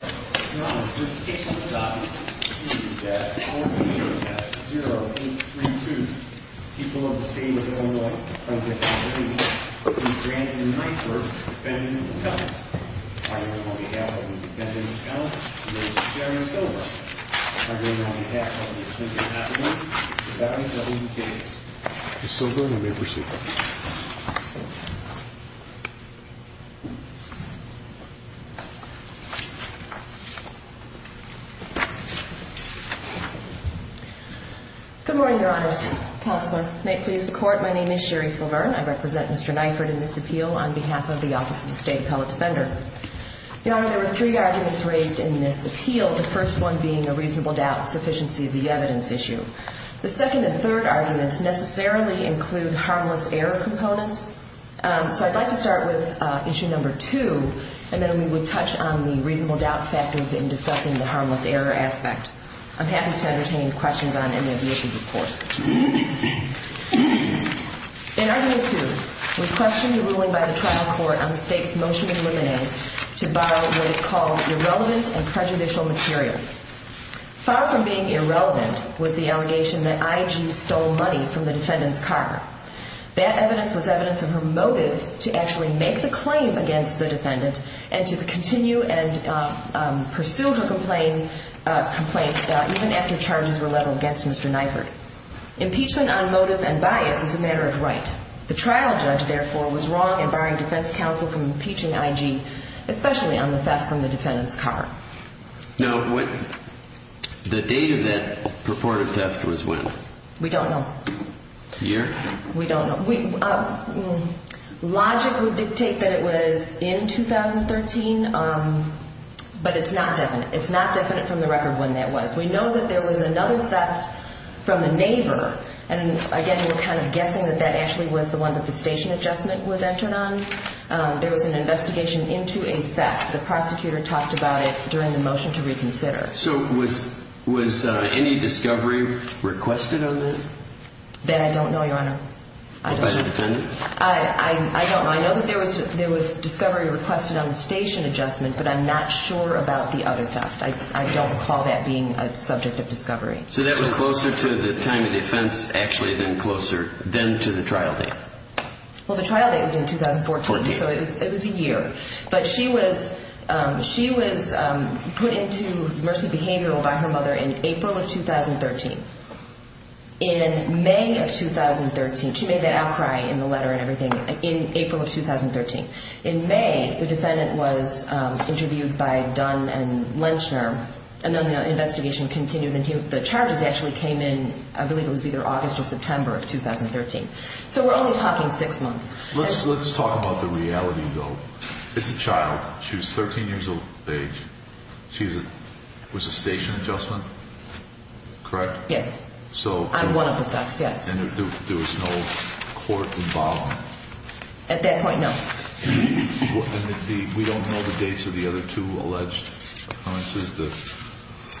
0832 people of the state of Illinois are going to be granted a Niford defendant's account. On behalf of the defendant's account, I'm going to be sharing a silver. On behalf of the plaintiff's affidavit, the value of the case is silver and may proceed. Good morning, Your Honors. Counselor, may it please the court, my name is Sherry Silver. I represent Mr. Niford in this appeal on behalf of the Office of the State Appellate Defender. Your Honor, there were three arguments raised in this appeal, the first one being a reasonable doubt sufficiency of the evidence issue. The second and third arguments necessarily include harmless error components. So I'd like to start with issue number two and then we would touch on the reasonable doubt factors in discussing the harmless error aspect. I'm happy to entertain questions on any of the issues, of course. In argument two, we questioned the ruling by the trial court on the state's motion in limine to borrow what it called irrelevant and prejudicial material. Far from being irrelevant was the allegation that IG stole money from the defendant's car. That evidence was evidence of her motive to actually make the claim against the defendant and to continue and pursue her complaint even after charges were leveled against Mr. Niford. Impeachment on motive and bias is a matter of right. The trial judge, therefore, was wrong in barring defense counsel from impeaching IG, especially on the theft from the defendant's car. Now, the date of that purported theft was when? We don't know. Year? We don't know. Logic would dictate that it was in 2013, but it's not definite. It's not definite from the record when that was. We know that there was another theft from a neighbor, and again, we're kind of guessing that that actually was the one that the station adjustment was entered on. There was an investigation into a theft. The prosecutor talked about it during the motion to reconsider. So was any discovery requested on that? That I don't know, Your Honor. By the defendant? I don't know. I know that there was discovery requested on the station adjustment, but I'm not sure about the other theft. I don't recall that being a subject of discovery. So that was closer to the time of the offense actually than to the trial date? Well, the trial date was in 2014, so it was a year. But she was put into mercy behavioral by her mother in April of 2013. In May of 2013, she made that outcry in the letter and everything in April of 2013. In May, the defendant was interviewed by Dunn and Lentner, and then the investigation continued. The charges actually came in, I believe it was either August or September of 2013. So we're only talking six months. Let's talk about the reality, though. It's a child. She was 13 years of age. She was a station adjustment, correct? Yes. I'm one of the thefts, yes. And there was no court involvement? At that point, no. And we don't know the dates of the other two alleged offenses?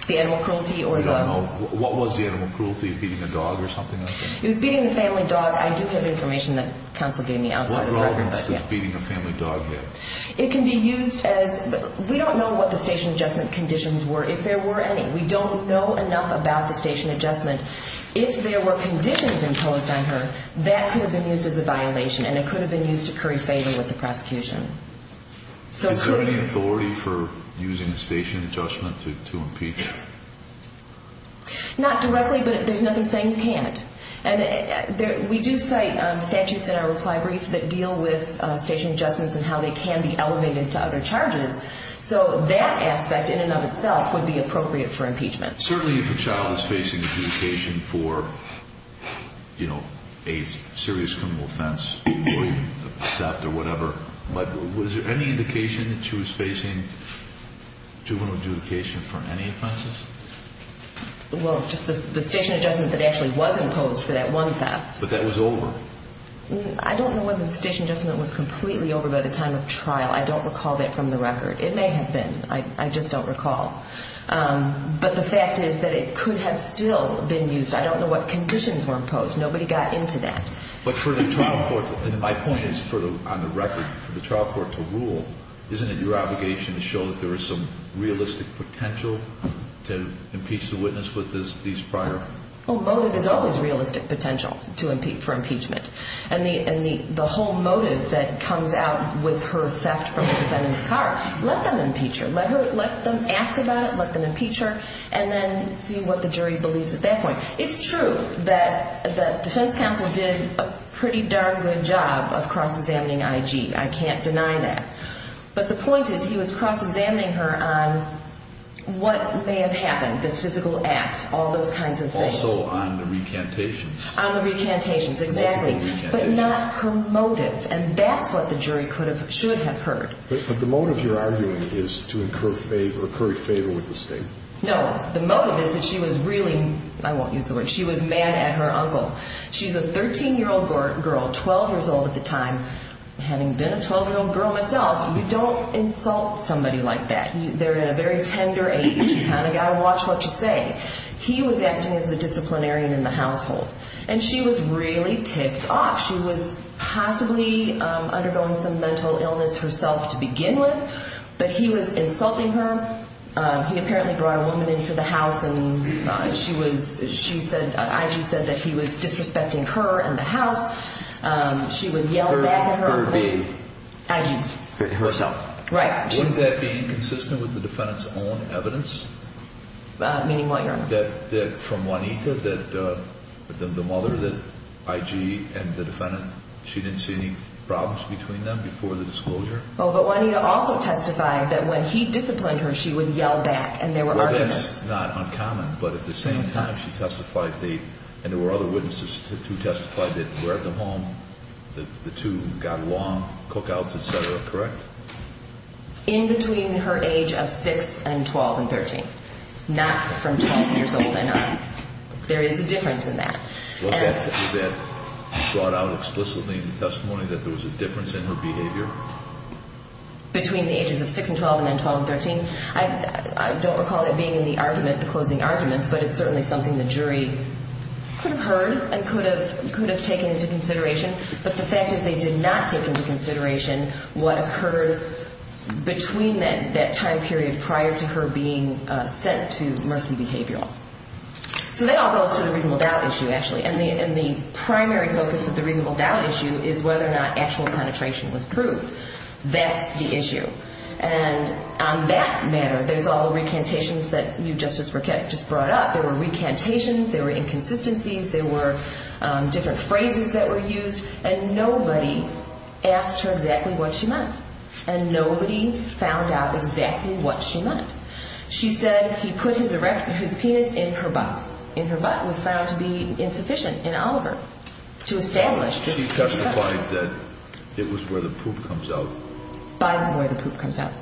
The animal cruelty or the— We don't know. What was the animal cruelty, beating a dog or something like that? It was beating the family dog. I do have information that counsel gave me outside of that. What relevance does beating a family dog have? It can be used as—we don't know what the station adjustment conditions were, if there were any. We don't know enough about the station adjustment. If there were conditions imposed on her, that could have been used as a violation, and it could have been used to curry favor with the prosecution. Is there any authority for using the station adjustment to impeach her? Not directly, but there's nothing saying you can't. We do cite statutes in our reply brief that deal with station adjustments and how they can be elevated to other charges, so that aspect in and of itself would be appropriate for impeachment. Certainly if a child is facing adjudication for a serious criminal offense, theft or whatever, but was there any indication that she was facing juvenile adjudication for any offenses? Well, just the station adjustment that actually was imposed for that one theft. But that was over. I don't know whether the station adjustment was completely over by the time of trial. I don't recall that from the record. It may have been. I just don't recall. But the fact is that it could have still been used. I don't know what conditions were imposed. Nobody got into that. But for the trial court—and my point is on the record, for the trial court to rule, isn't it your obligation to show that there is some realistic potential to impeach the witness with these prior— Well, motive is always realistic potential for impeachment. And the whole motive that comes out with her theft from the defendant's car, let them impeach her. Let them ask about it, let them impeach her, and then see what the jury believes at that point. It's true that the defense counsel did a pretty darn good job of cross-examining IG. I can't deny that. But the point is he was cross-examining her on what may have happened, the physical act, all those kinds of things. Also on the recantations. On the recantations, exactly. But not her motive. And that's what the jury should have heard. But the motive, you're arguing, is to incur favor with the state. No. The motive is that she was really—I won't use the word—she was mad at her uncle. She's a 13-year-old girl, 12 years old at the time. Having been a 12-year-old girl myself, you don't insult somebody like that. They're in a very tender age. You kind of got to watch what you say. He was acting as the disciplinarian in the household. And she was really ticked off. She was possibly undergoing some mental illness herself to begin with, but he was insulting her. He apparently brought a woman into the house, and she was—she said—I.G. said that he was disrespecting her and the house. She would yell back at her uncle. Her being? I.G. Herself. Right. Wasn't that being consistent with the defendant's own evidence? Meaning what, Your Honor? That from Juanita, that the mother, that I.G. and the defendant, she didn't see any problems between them before the disclosure? Well, but Juanita also testified that when he disciplined her, she would yell back, and there were arguments. Well, that's not uncommon. But at the same time, she testified that—and there were other witnesses who testified that were at the home, the two got along, cookouts, et cetera. Correct? In between her age of 6 and 12 and 13. Not from 12 years old and up. There is a difference in that. Was that brought out explicitly in the testimony that there was a difference in her behavior? Between the ages of 6 and 12 and then 12 and 13. I don't recall it being in the argument, the closing arguments, but it's certainly something the jury could have heard and could have taken into consideration. But the fact is they did not take into consideration what occurred between that time period prior to her being sent to Mercy Behavioral. So that all goes to the reasonable doubt issue, actually. And the primary focus of the reasonable doubt issue is whether or not actual penetration was proved. That's the issue. And on that matter, there's all the recantations that you just brought up. There were recantations, there were inconsistencies, there were different phrases that were used, and nobody asked her exactly what she meant. And nobody found out exactly what she meant. She said he put his penis in her butt. In her butt was found to be insufficient in Oliver to establish this. He testified that it was where the poop comes out. By where the poop comes out.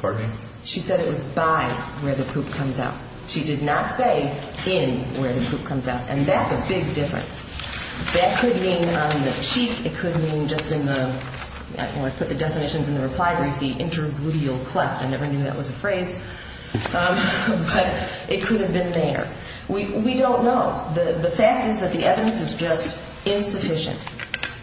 Pardon me? She said it was by where the poop comes out. She did not say in where the poop comes out. And that's a big difference. That could mean on the cheek. It could mean just in the, when I put the definitions in the reply brief, the intergluteal cleft. I never knew that was a phrase. But it could have been there. We don't know. The fact is that the evidence is just insufficient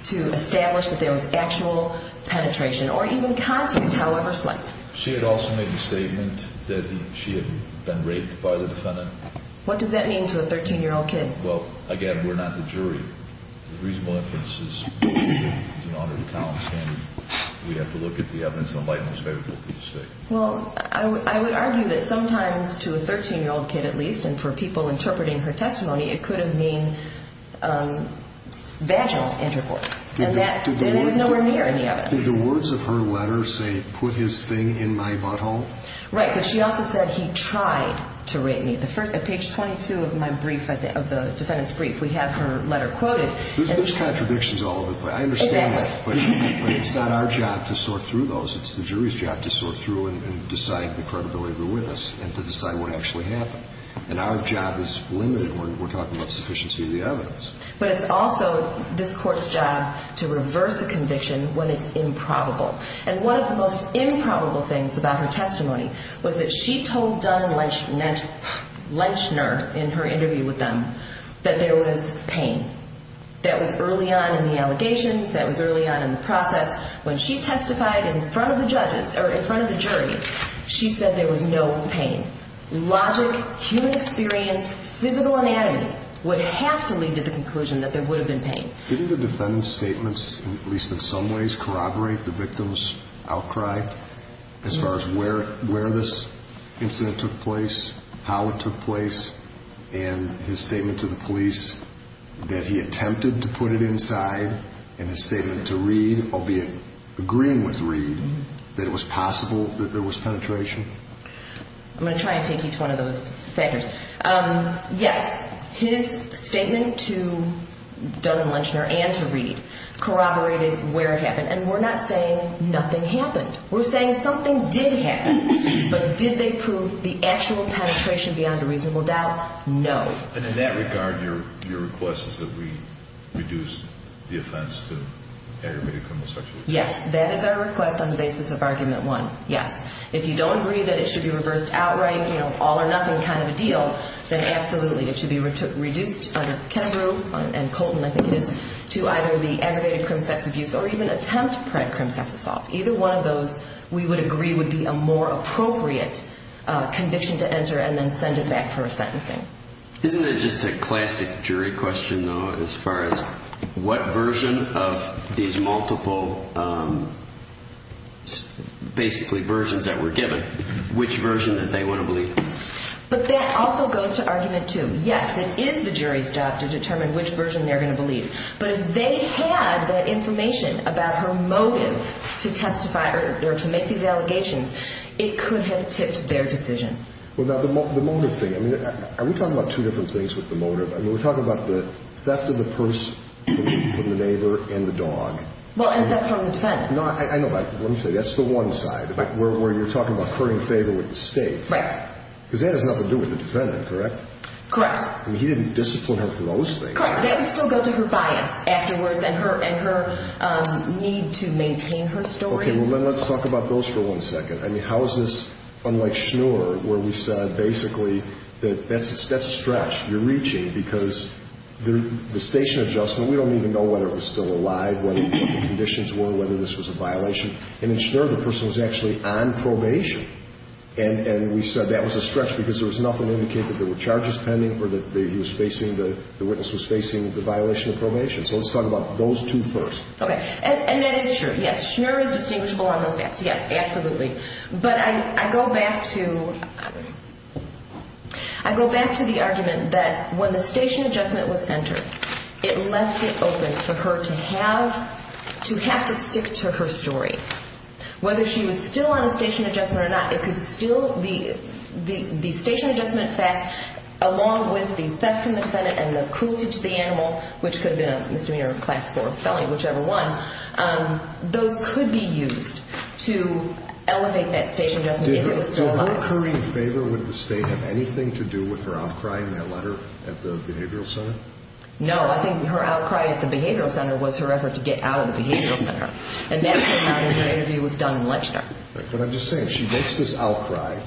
to establish that there was actual penetration, or even content, however slight. She had also made the statement that she had been raped by the defendant. What does that mean to a 13-year-old kid? Well, again, we're not the jury. The reasonable inference is in order of the town's standing. We have to look at the evidence in the light most favorable to the state. Well, I would argue that sometimes to a 13-year-old kid at least, and for people interpreting her testimony, it could have been vaginal intercourse. And that was nowhere near in the evidence. Did the words of her letter say, put his thing in my butthole? Right, but she also said he tried to rape me. At page 22 of my brief, of the defendant's brief, we have her letter quoted. There's contradictions all over the place. I understand that. But it's not our job to sort through those. It's the jury's job to sort through and decide the credibility of the witness and to decide what actually happened. And our job is limited. We're talking about sufficiency of the evidence. But it's also this Court's job to reverse a conviction when it's improbable. And one of the most improbable things about her testimony was that she told Dunn and Lechner in her interview with them that there was pain. That was early on in the allegations. That was early on in the process. When she testified in front of the judges or in front of the jury, she said there was no pain. Logic, human experience, physical anatomy would have to lead to the conclusion that there would have been pain. Didn't the defendant's statements, at least in some ways, corroborate the victim's outcry as far as where this incident took place, how it took place, and his statement to the police that he attempted to put it inside, and his statement to Reed, albeit agreeing with Reed, that it was possible that there was penetration? I'm going to try and take each one of those factors. Yes, his statement to Dunn and Lechner and to Reed corroborated where it happened. And we're not saying nothing happened. We're saying something did happen. But did they prove the actual penetration beyond a reasonable doubt? No. And in that regard, your request is that we reduce the offense to aggravated criminal sexual abuse? Yes, that is our request on the basis of argument one, yes. If you don't agree that it should be reversed outright, you know, all or nothing kind of a deal, then absolutely. It should be reduced under Kennebrew and Colton, I think it is, to either the aggravated criminal sex abuse or even attempt-pred criminal sex assault. Either one of those, we would agree, would be a more appropriate conviction to enter and then send it back for sentencing. Isn't it just a classic jury question, though, as far as what version of these multiple basically versions that were given, which version that they would have believed? But that also goes to argument two. Yes, it is the jury's job to determine which version they're going to believe. But if they had the information about her motive to testify or to make these allegations, it could have tipped their decision. Well, now, the motive thing, I mean, are we talking about two different things with the motive? I mean, we're talking about the theft of the purse from the neighbor and the dog. Well, and theft from the defendant. No, I know, but let me say, that's the one side where you're talking about currying favor with the state. Right. Because that has nothing to do with the defendant, correct? Correct. I mean, he didn't discipline her for those things. Correct. That would still go to her bias afterwards and her need to maintain her story. Okay, well, then let's talk about those for one second. I mean, how is this unlike Schnur, where we said basically that that's a stretch, you're reaching, because the station adjustment, we don't even know whether it was still alive, what the conditions were, whether this was a violation. And in Schnur, the person was actually on probation. And we said that was a stretch because there was nothing to indicate that there were charges pending or that the witness was facing the violation of probation. So let's talk about those two first. Okay, and that is true. Yes, Schnur is distinguishable on those maps. Yes, absolutely. But I go back to the argument that when the station adjustment was entered, it left it open for her to have to stick to her story. Whether she was still on a station adjustment or not, it could still, the station adjustment facts, along with the theft from the defendant and the cruelty to the animal, which could have been a misdemeanor, class four felony, whichever one, those could be used to elevate that station adjustment if it was still alive. Did her occurring favor with the State have anything to do with her outcry in that letter at the Behavioral Center? No, I think her outcry at the Behavioral Center was her effort to get out of the Behavioral Center. And that came out in her interview with Dunn and Lechner. But I'm just saying, she makes this outcry,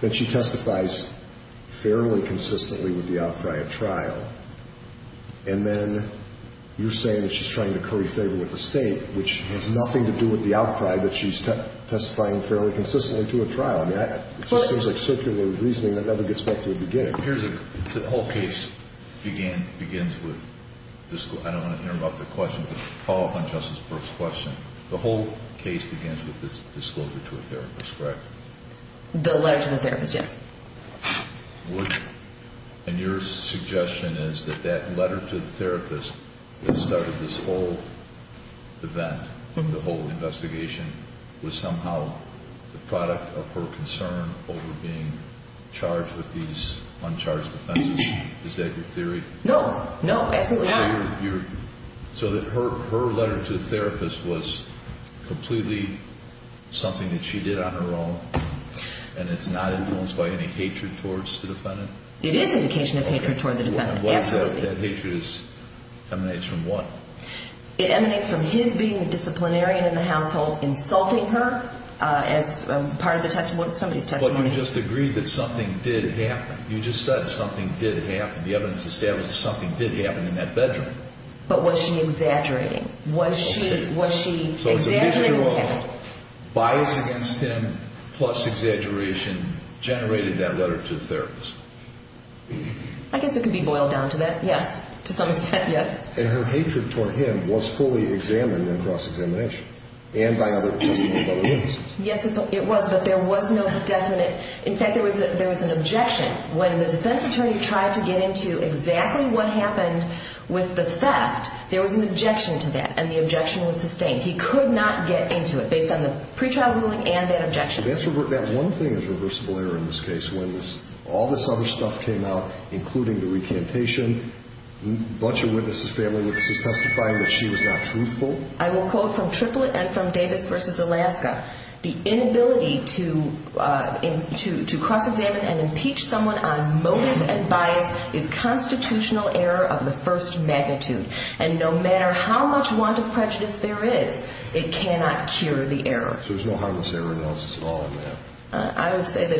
then she testifies fairly consistently with the outcry at trial. And then you're saying that she's trying to curry favor with the State, which has nothing to do with the outcry that she's testifying fairly consistently to at trial. I mean, it just seems like circular reasoning that never gets back to the beginning. The whole case begins with, I don't want to interrupt the question, but to follow up on Justice Burke's question, the whole case begins with this disclosure to a therapist, correct? The letter to the therapist, yes. And your suggestion is that that letter to the therapist that started this whole event, the whole investigation, was somehow the product of her concern over being charged with these uncharged offenses? Is that your theory? No, no. So her letter to the therapist was completely something that she did on her own, and it's not influenced by any hatred towards the defendant? It is an indication of hatred towards the defendant, absolutely. That hatred emanates from what? It emanates from his being the disciplinarian in the household, insulting her as part of somebody's testimony. Well, you just agreed that something did happen. You just said something did happen. The evidence establishes something did happen in that bedroom. But was she exaggerating? Was she exaggerating? So it's a mixture of bias against him plus exaggeration generated that letter to the therapist. I guess it could be boiled down to that, yes. To some extent, yes. And her hatred toward him was fully examined in cross-examination and by other witnesses. Yes, it was, but there was no definite. In fact, there was an objection. When the defense attorney tried to get into exactly what happened with the theft, there was an objection to that, and the objection was sustained. He could not get into it based on the pretrial ruling and that objection. That one thing is reversible error in this case. When all this other stuff came out, including the recantation, a bunch of family witnesses testifying that she was not truthful. I will quote from Triplett and from Davis v. Alaska. The inability to cross-examine and impeach someone on motive and bias is constitutional error of the first magnitude. And no matter how much want of prejudice there is, it cannot cure the error. So there's no harmless error analysis at all in that? I would say that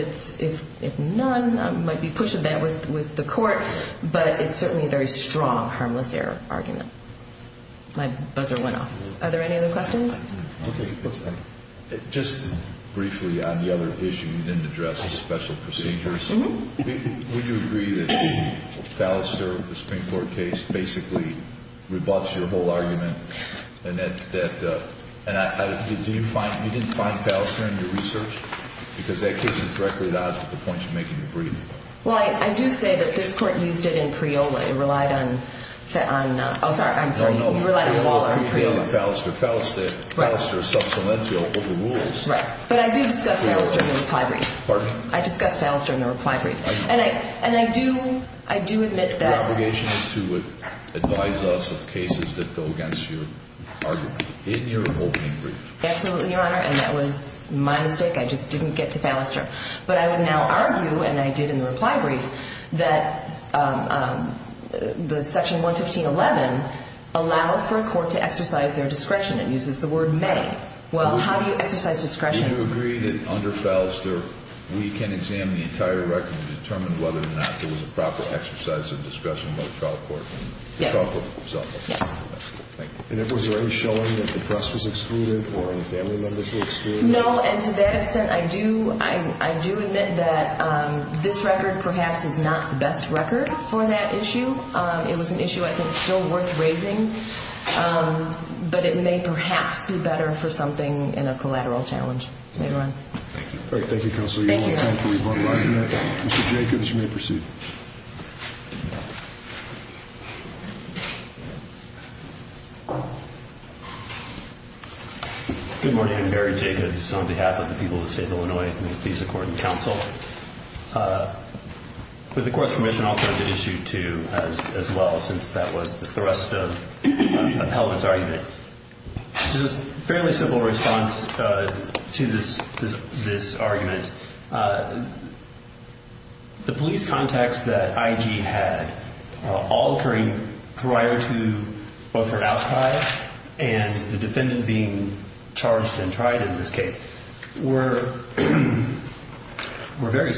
if none, I might be pushing that with the court, but it's certainly a very strong harmless error argument. My buzzer went off. Are there any other questions? Okay. Just briefly on the other issue, you didn't address the special procedures. Would you agree that the Fallister, the Supreme Court case, basically rebuts your whole argument? And you didn't find Fallister in your research? Because that gives you directly the odds with the point you're making in bringing it up. Well, I do say that this court used it in Priola. It relied on, oh, sorry. I'm sorry. You relied on the wall on Priola. No, no. Priola, Priola, Fallister, Fallister. Right. Fallister is sub salientio with the rules. Right. But I do discuss Fallister in the reply brief. Pardon? I discuss Fallister in the reply brief. And I do, I do admit that. Your obligation is to advise us of cases that go against your argument in your opening brief. Absolutely, Your Honor. And that was my mistake. I just didn't get to Fallister. But I would now argue, and I did in the reply brief, that the Section 115.11 allows for a court to exercise their discretion. It uses the word may. Well, how do you exercise discretion? Do you agree that under Fallister we can examine the entire record and determine whether or not there was a proper exercise of discretion by the trial court? Yes. Yes. Thank you. And was there any showing that the press was excluded or any family members were excluded? No. And to that extent, I do admit that this record perhaps is not the best record for that issue. It was an issue I think still worth raising. But it may perhaps be better for something in a collateral challenge later on. Thank you. All right. Thank you, Counselor. Thank you, Your Honor. You don't want time for rebuttal after that. Mr. Jacobs, you may proceed. Thank you. Good morning. I'm Barry Jacobs on behalf of the people of the state of Illinois. May it please the Court and the Counsel. With the Court's permission, I'll turn to Issue 2 as well, since that was the thrust of Hellman's argument. This is a fairly simple response to this argument. The police contacts that I.G. had, all occurring prior to both her outcry and the defendant being charged and tried in this case, were very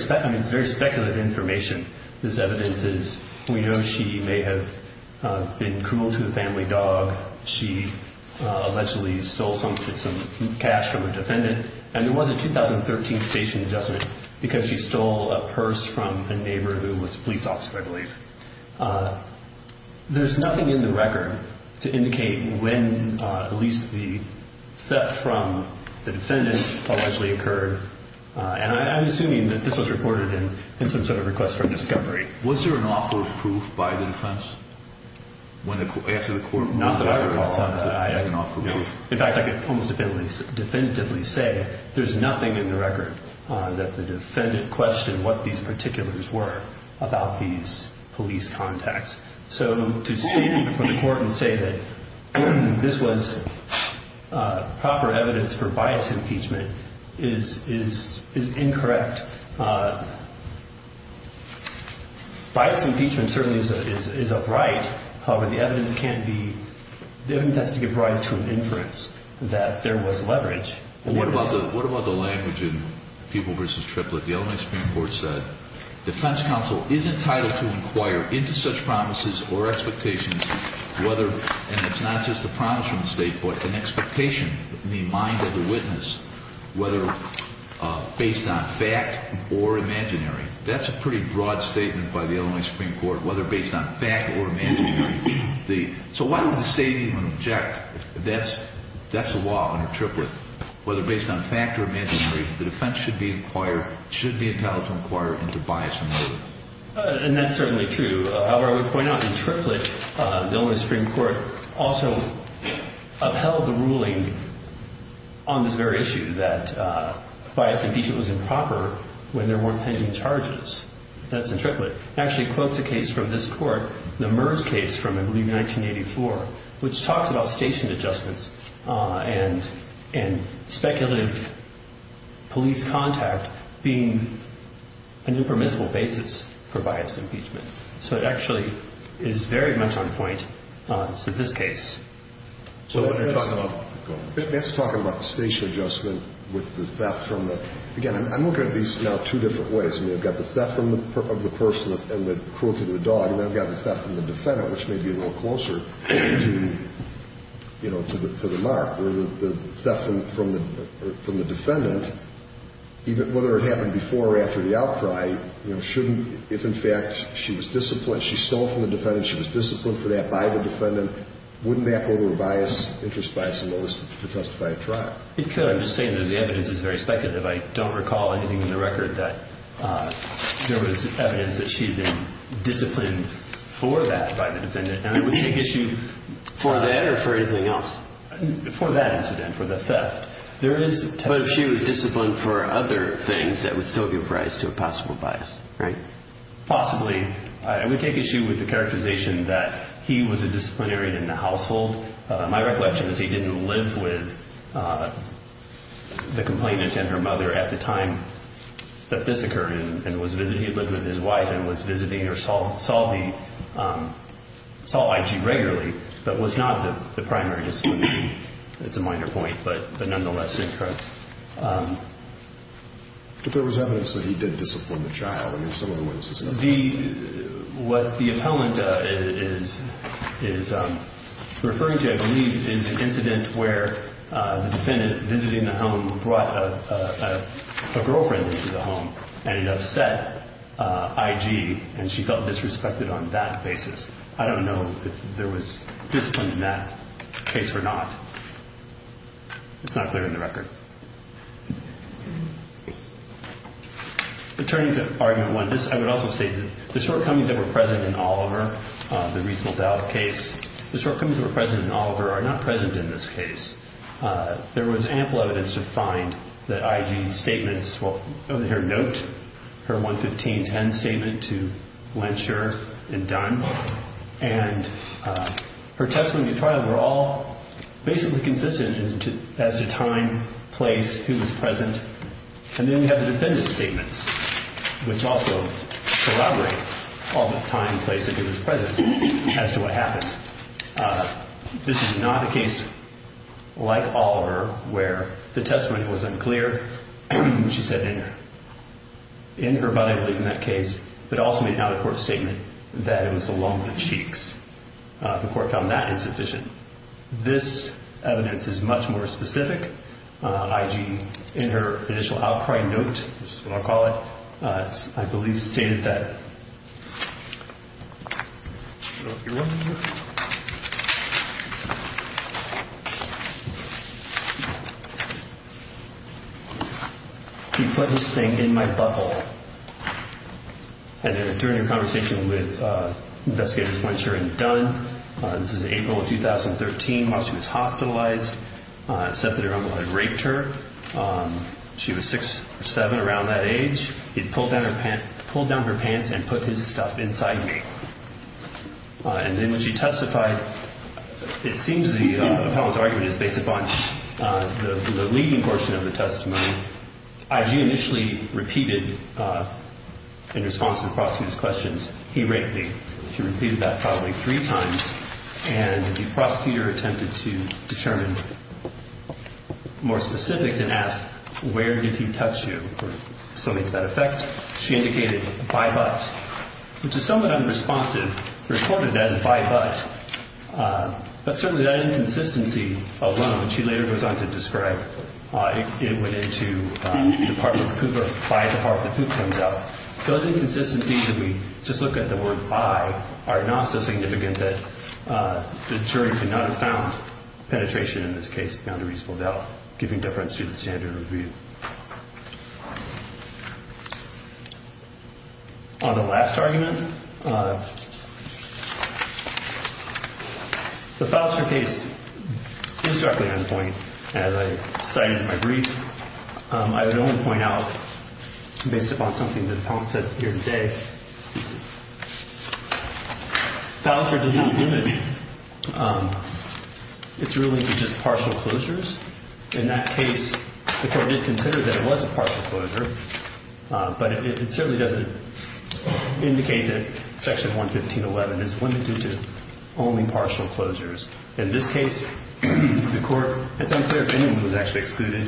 speculative information. This evidence is we know she may have been cruel to a family dog. She allegedly stole some cash from a defendant. And there was a 2013 station adjustment because she stole a purse from a neighbor who was a police officer, I believe. There's nothing in the record to indicate when at least the theft from the defendant allegedly occurred. And I'm assuming that this was reported in some sort of request for discovery. Was there an offer of proof by the defense? Not that I recall. In fact, I could almost definitively say there's nothing in the record that the defendant questioned what these particulars were about these police contacts. So to stand before the Court and say that this was proper evidence for bias impeachment is incorrect. Bias impeachment certainly is upright. However, the evidence has to give rise to an inference that there was leverage. What about the language in Pupil v. Triplett? The Illinois Supreme Court said defense counsel is entitled to inquire into such promises or expectations whether, and it's not just a promise from the state, but an expectation in the mind of the witness, whether based on fact or imaginary. That's a pretty broad statement by the Illinois Supreme Court, whether based on fact or imaginary. So why would the state even object? That's the law under Triplett. Whether based on fact or imaginary, the defense should be entitled to inquire into bias impeachment. And that's certainly true. However, I would point out in Triplett, the Illinois Supreme Court also upheld the ruling on this very issue that bias impeachment was improper when there weren't pending charges. That's in Triplett. It actually quotes a case from this court, the MERS case from, I believe, 1984, which talks about station adjustments and speculative police contact being an impermissible basis for bias impeachment. So it actually is very much on point in this case. Let's talk about station adjustment with the theft from the – again, I'm looking at these now two different ways. I mean, I've got the theft of the person and the cruelty to the dog, and then I've got the theft from the defendant, which may be a little closer, you know, to the mark. Or the theft from the defendant, whether it happened before or after the outcry, you know, shouldn't – if, in fact, she was disciplined, she stole from the defendant, she was disciplined for that by the defendant, wouldn't that go to a bias, interest bias, to testify at trial? It could. I'm just saying that the evidence is very speculative. I don't recall anything in the record that there was evidence that she had been disciplined for that by the defendant. And it would take issue for that or for anything else, for that incident, for the theft. There is – But if she was disciplined for other things, that would still give rise to a possible bias, right? Possibly. I would take issue with the characterization that he was a disciplinarian in the household. My recollection is he didn't live with the complainant and her mother at the time that this occurred and was visiting – he lived with his wife and was visiting or saw the – saw IG regularly, but was not the primary disciplinarian. That's a minor point, but nonetheless, incorrect. But there was evidence that he did discipline the child. I mean, some of the witnesses have said that. The – what the appellant is referring to, I believe, is an incident where the defendant, visiting the home, brought a girlfriend into the home and it upset IG, and she felt disrespected on that basis. I don't know if there was discipline in that case or not. It's not clear in the record. But turning to Argument 1, this – I would also say that the shortcomings that were present in Oliver, the reasonable doubt case, the shortcomings that were present in Oliver are not present in this case. There was ample evidence to find that IG's statements – well, her note, her 11510 statement to Glensher and Dunn, and her testimony to trial were all basically consistent as to time, place, who was present. And then we have the defendant's statements, which also corroborate all the time, place, and who was present as to what happened. This is not a case like Oliver where the testimony was unclear. She said in her – in her, but I believe in that case, but also made an out-of-court statement that it was along the cheeks. The court found that insufficient. This evidence is much more specific. IG, in her initial outcry note, which is what I'll call it, I believe stated that – he put this thing in my butthole. And then during a conversation with investigators Glensher and Dunn, this is April of 2013, while she was hospitalized, it's said that her uncle had raped her. She was six or seven around that age. He had pulled down her pants and put his stuff inside me. And then when she testified, it seems the appellant's argument is based upon the leading portion of the testimony. IG initially repeated, in response to the prosecutor's questions, he raped me. She repeated that probably three times. And the prosecutor attempted to determine more specifics and asked, where did he touch you? Or something to that effect. She indicated by butt, which is somewhat unresponsive, reported as by butt. But certainly that inconsistency alone, which she later goes on to describe, it went into the part of the poop or by the part of the poop comes out. Those inconsistencies, if we just look at the word by, are not so significant that the jury could not have found penetration in this case beyond a reasonable doubt, giving difference to the standard of review. On the last argument, the Faustner case is directly on point. As I cited in my brief, I would only point out, based upon something that the appellant said here today, Faustner did not limit its ruling to just partial closures. In that case, the court did consider that it was a partial closure. But it certainly doesn't indicate that Section 115.11 is limited to only partial closures. In this case, the court, it's unclear if anyone was actually excluded,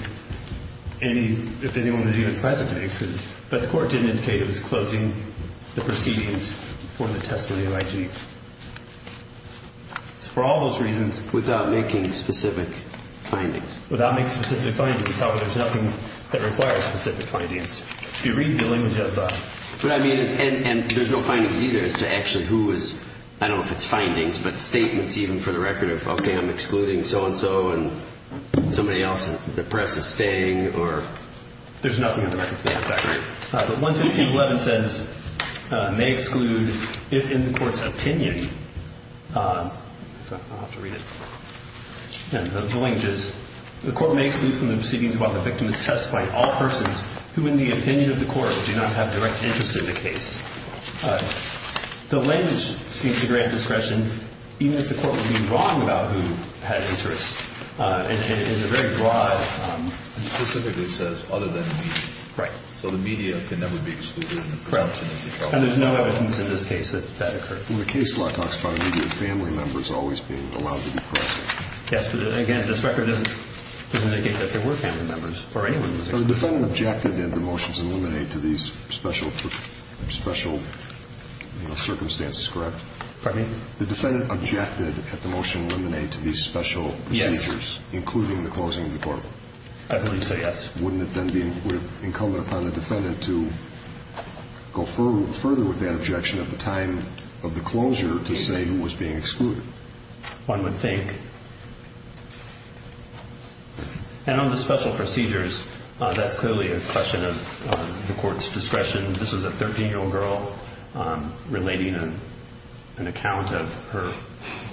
if anyone was even present to be excluded. But the court didn't indicate it was closing the proceedings for the testimony of I.G. For all those reasons. Without making specific findings. Without making specific findings. However, there's nothing that requires specific findings. If you read the language of the. But I mean, and there's no findings either as to actually who is. I don't know if it's findings, but statements even for the record of OK, I'm excluding so and so and somebody else. The press is staying or there's nothing in the record. But 115.11 says may exclude in the court's opinion. I'll have to read it. The court may exclude from the proceedings while the victim is testifying. All persons who, in the opinion of the court, do not have direct interest in the case. The language seems to grant discretion, even if the court was being wrong about who had interest. It is a very broad. Specifically says other than the media. Right. So the media can never be excluded. And there's no evidence in this case that that occurred. When the case law talks about immediate family members always being allowed to be. Yes. Again, this record doesn't make it that there were family members for anyone. The defendant objected that the motions eliminate to these special special circumstances. Correct. The defendant objected that the motion eliminate to these special procedures, including the closing of the court. I would say yes. Wouldn't it then be incumbent upon the defendant to go further with that objection at the time of the closure to say who was being excluded? One would think. And on the special procedures, that's clearly a question of the court's discretion. This is a 13-year-old girl relating an account of her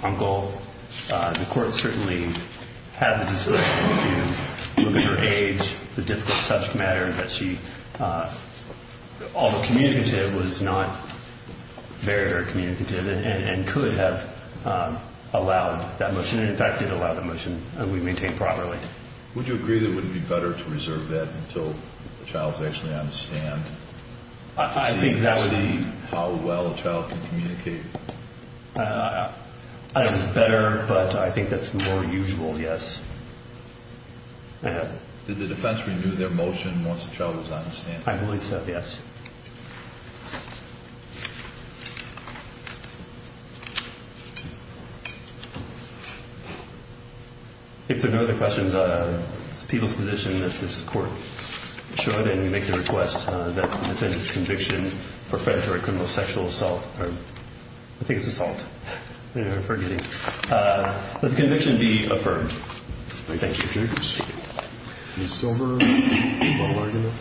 uncle. The court certainly had the discretion to look at her age, the difficult subject matter that she, although communicative, was not very, very communicative and could have allowed that motion. In fact, it allowed the motion to be maintained properly. Would you agree that it would be better to reserve that until the child is actually on the stand to see how well a child can communicate? I don't know if it's better, but I think that's more usual, yes. Did the defense renew their motion once the child was on the stand? I believe so, yes. If there are no other questions, it's the people's position that this court should, that the defendant's conviction for federal criminal sexual assault or I think it's assault. I'm forgetting. Let the conviction be affirmed. Thank you, Mr. Jacobs. Ms. Silver, do you have a little argument?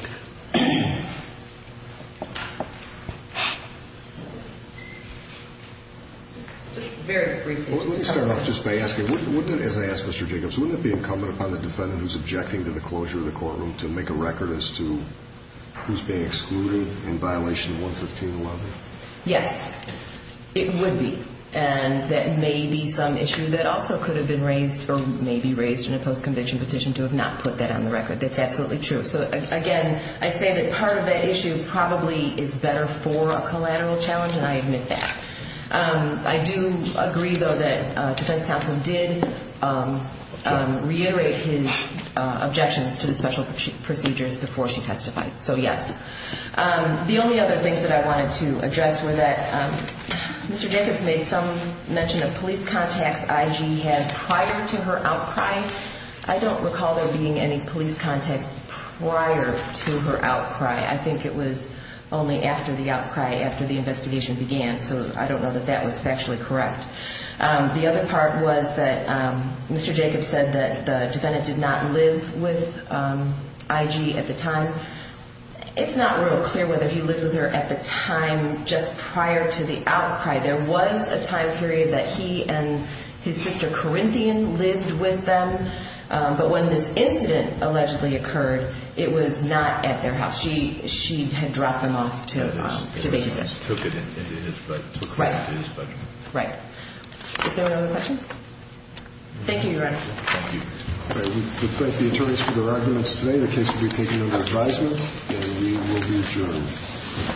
Just very briefly. Let me start off just by asking, as I asked Mr. Jacobs, wouldn't it be incumbent upon the defendant who's objecting to the closure of the courtroom to make a record as to who's being excluded in violation of 11511? Yes, it would be. And that may be some issue that also could have been raised or may be raised in a post-conviction petition to have not put that on the record. That's absolutely true. So, again, I say that part of that issue probably is better for a collateral challenge, and I admit that. I do agree, though, that defense counsel did reiterate his objections to the special procedures before she testified. So, yes. The only other things that I wanted to address were that Mr. Jacobs made some mention of police contacts IG had prior to her outcry. I don't recall there being any police contacts prior to her outcry. I think it was only after the outcry, after the investigation began, so I don't know that that was factually correct. The other part was that Mr. Jacobs said that the defendant did not live with IG at the time. It's not real clear whether he lived with her at the time just prior to the outcry. There was a time period that he and his sister, Corinthian, lived with them, but when this incident allegedly occurred, it was not at their house. She had dropped them off to their house. Took it into his bedroom. Right. Is there any other questions? Thank you, Your Honor. Thank you. We thank the attorneys for their arguments today. The case will be taken under advisement, and we will be adjourned.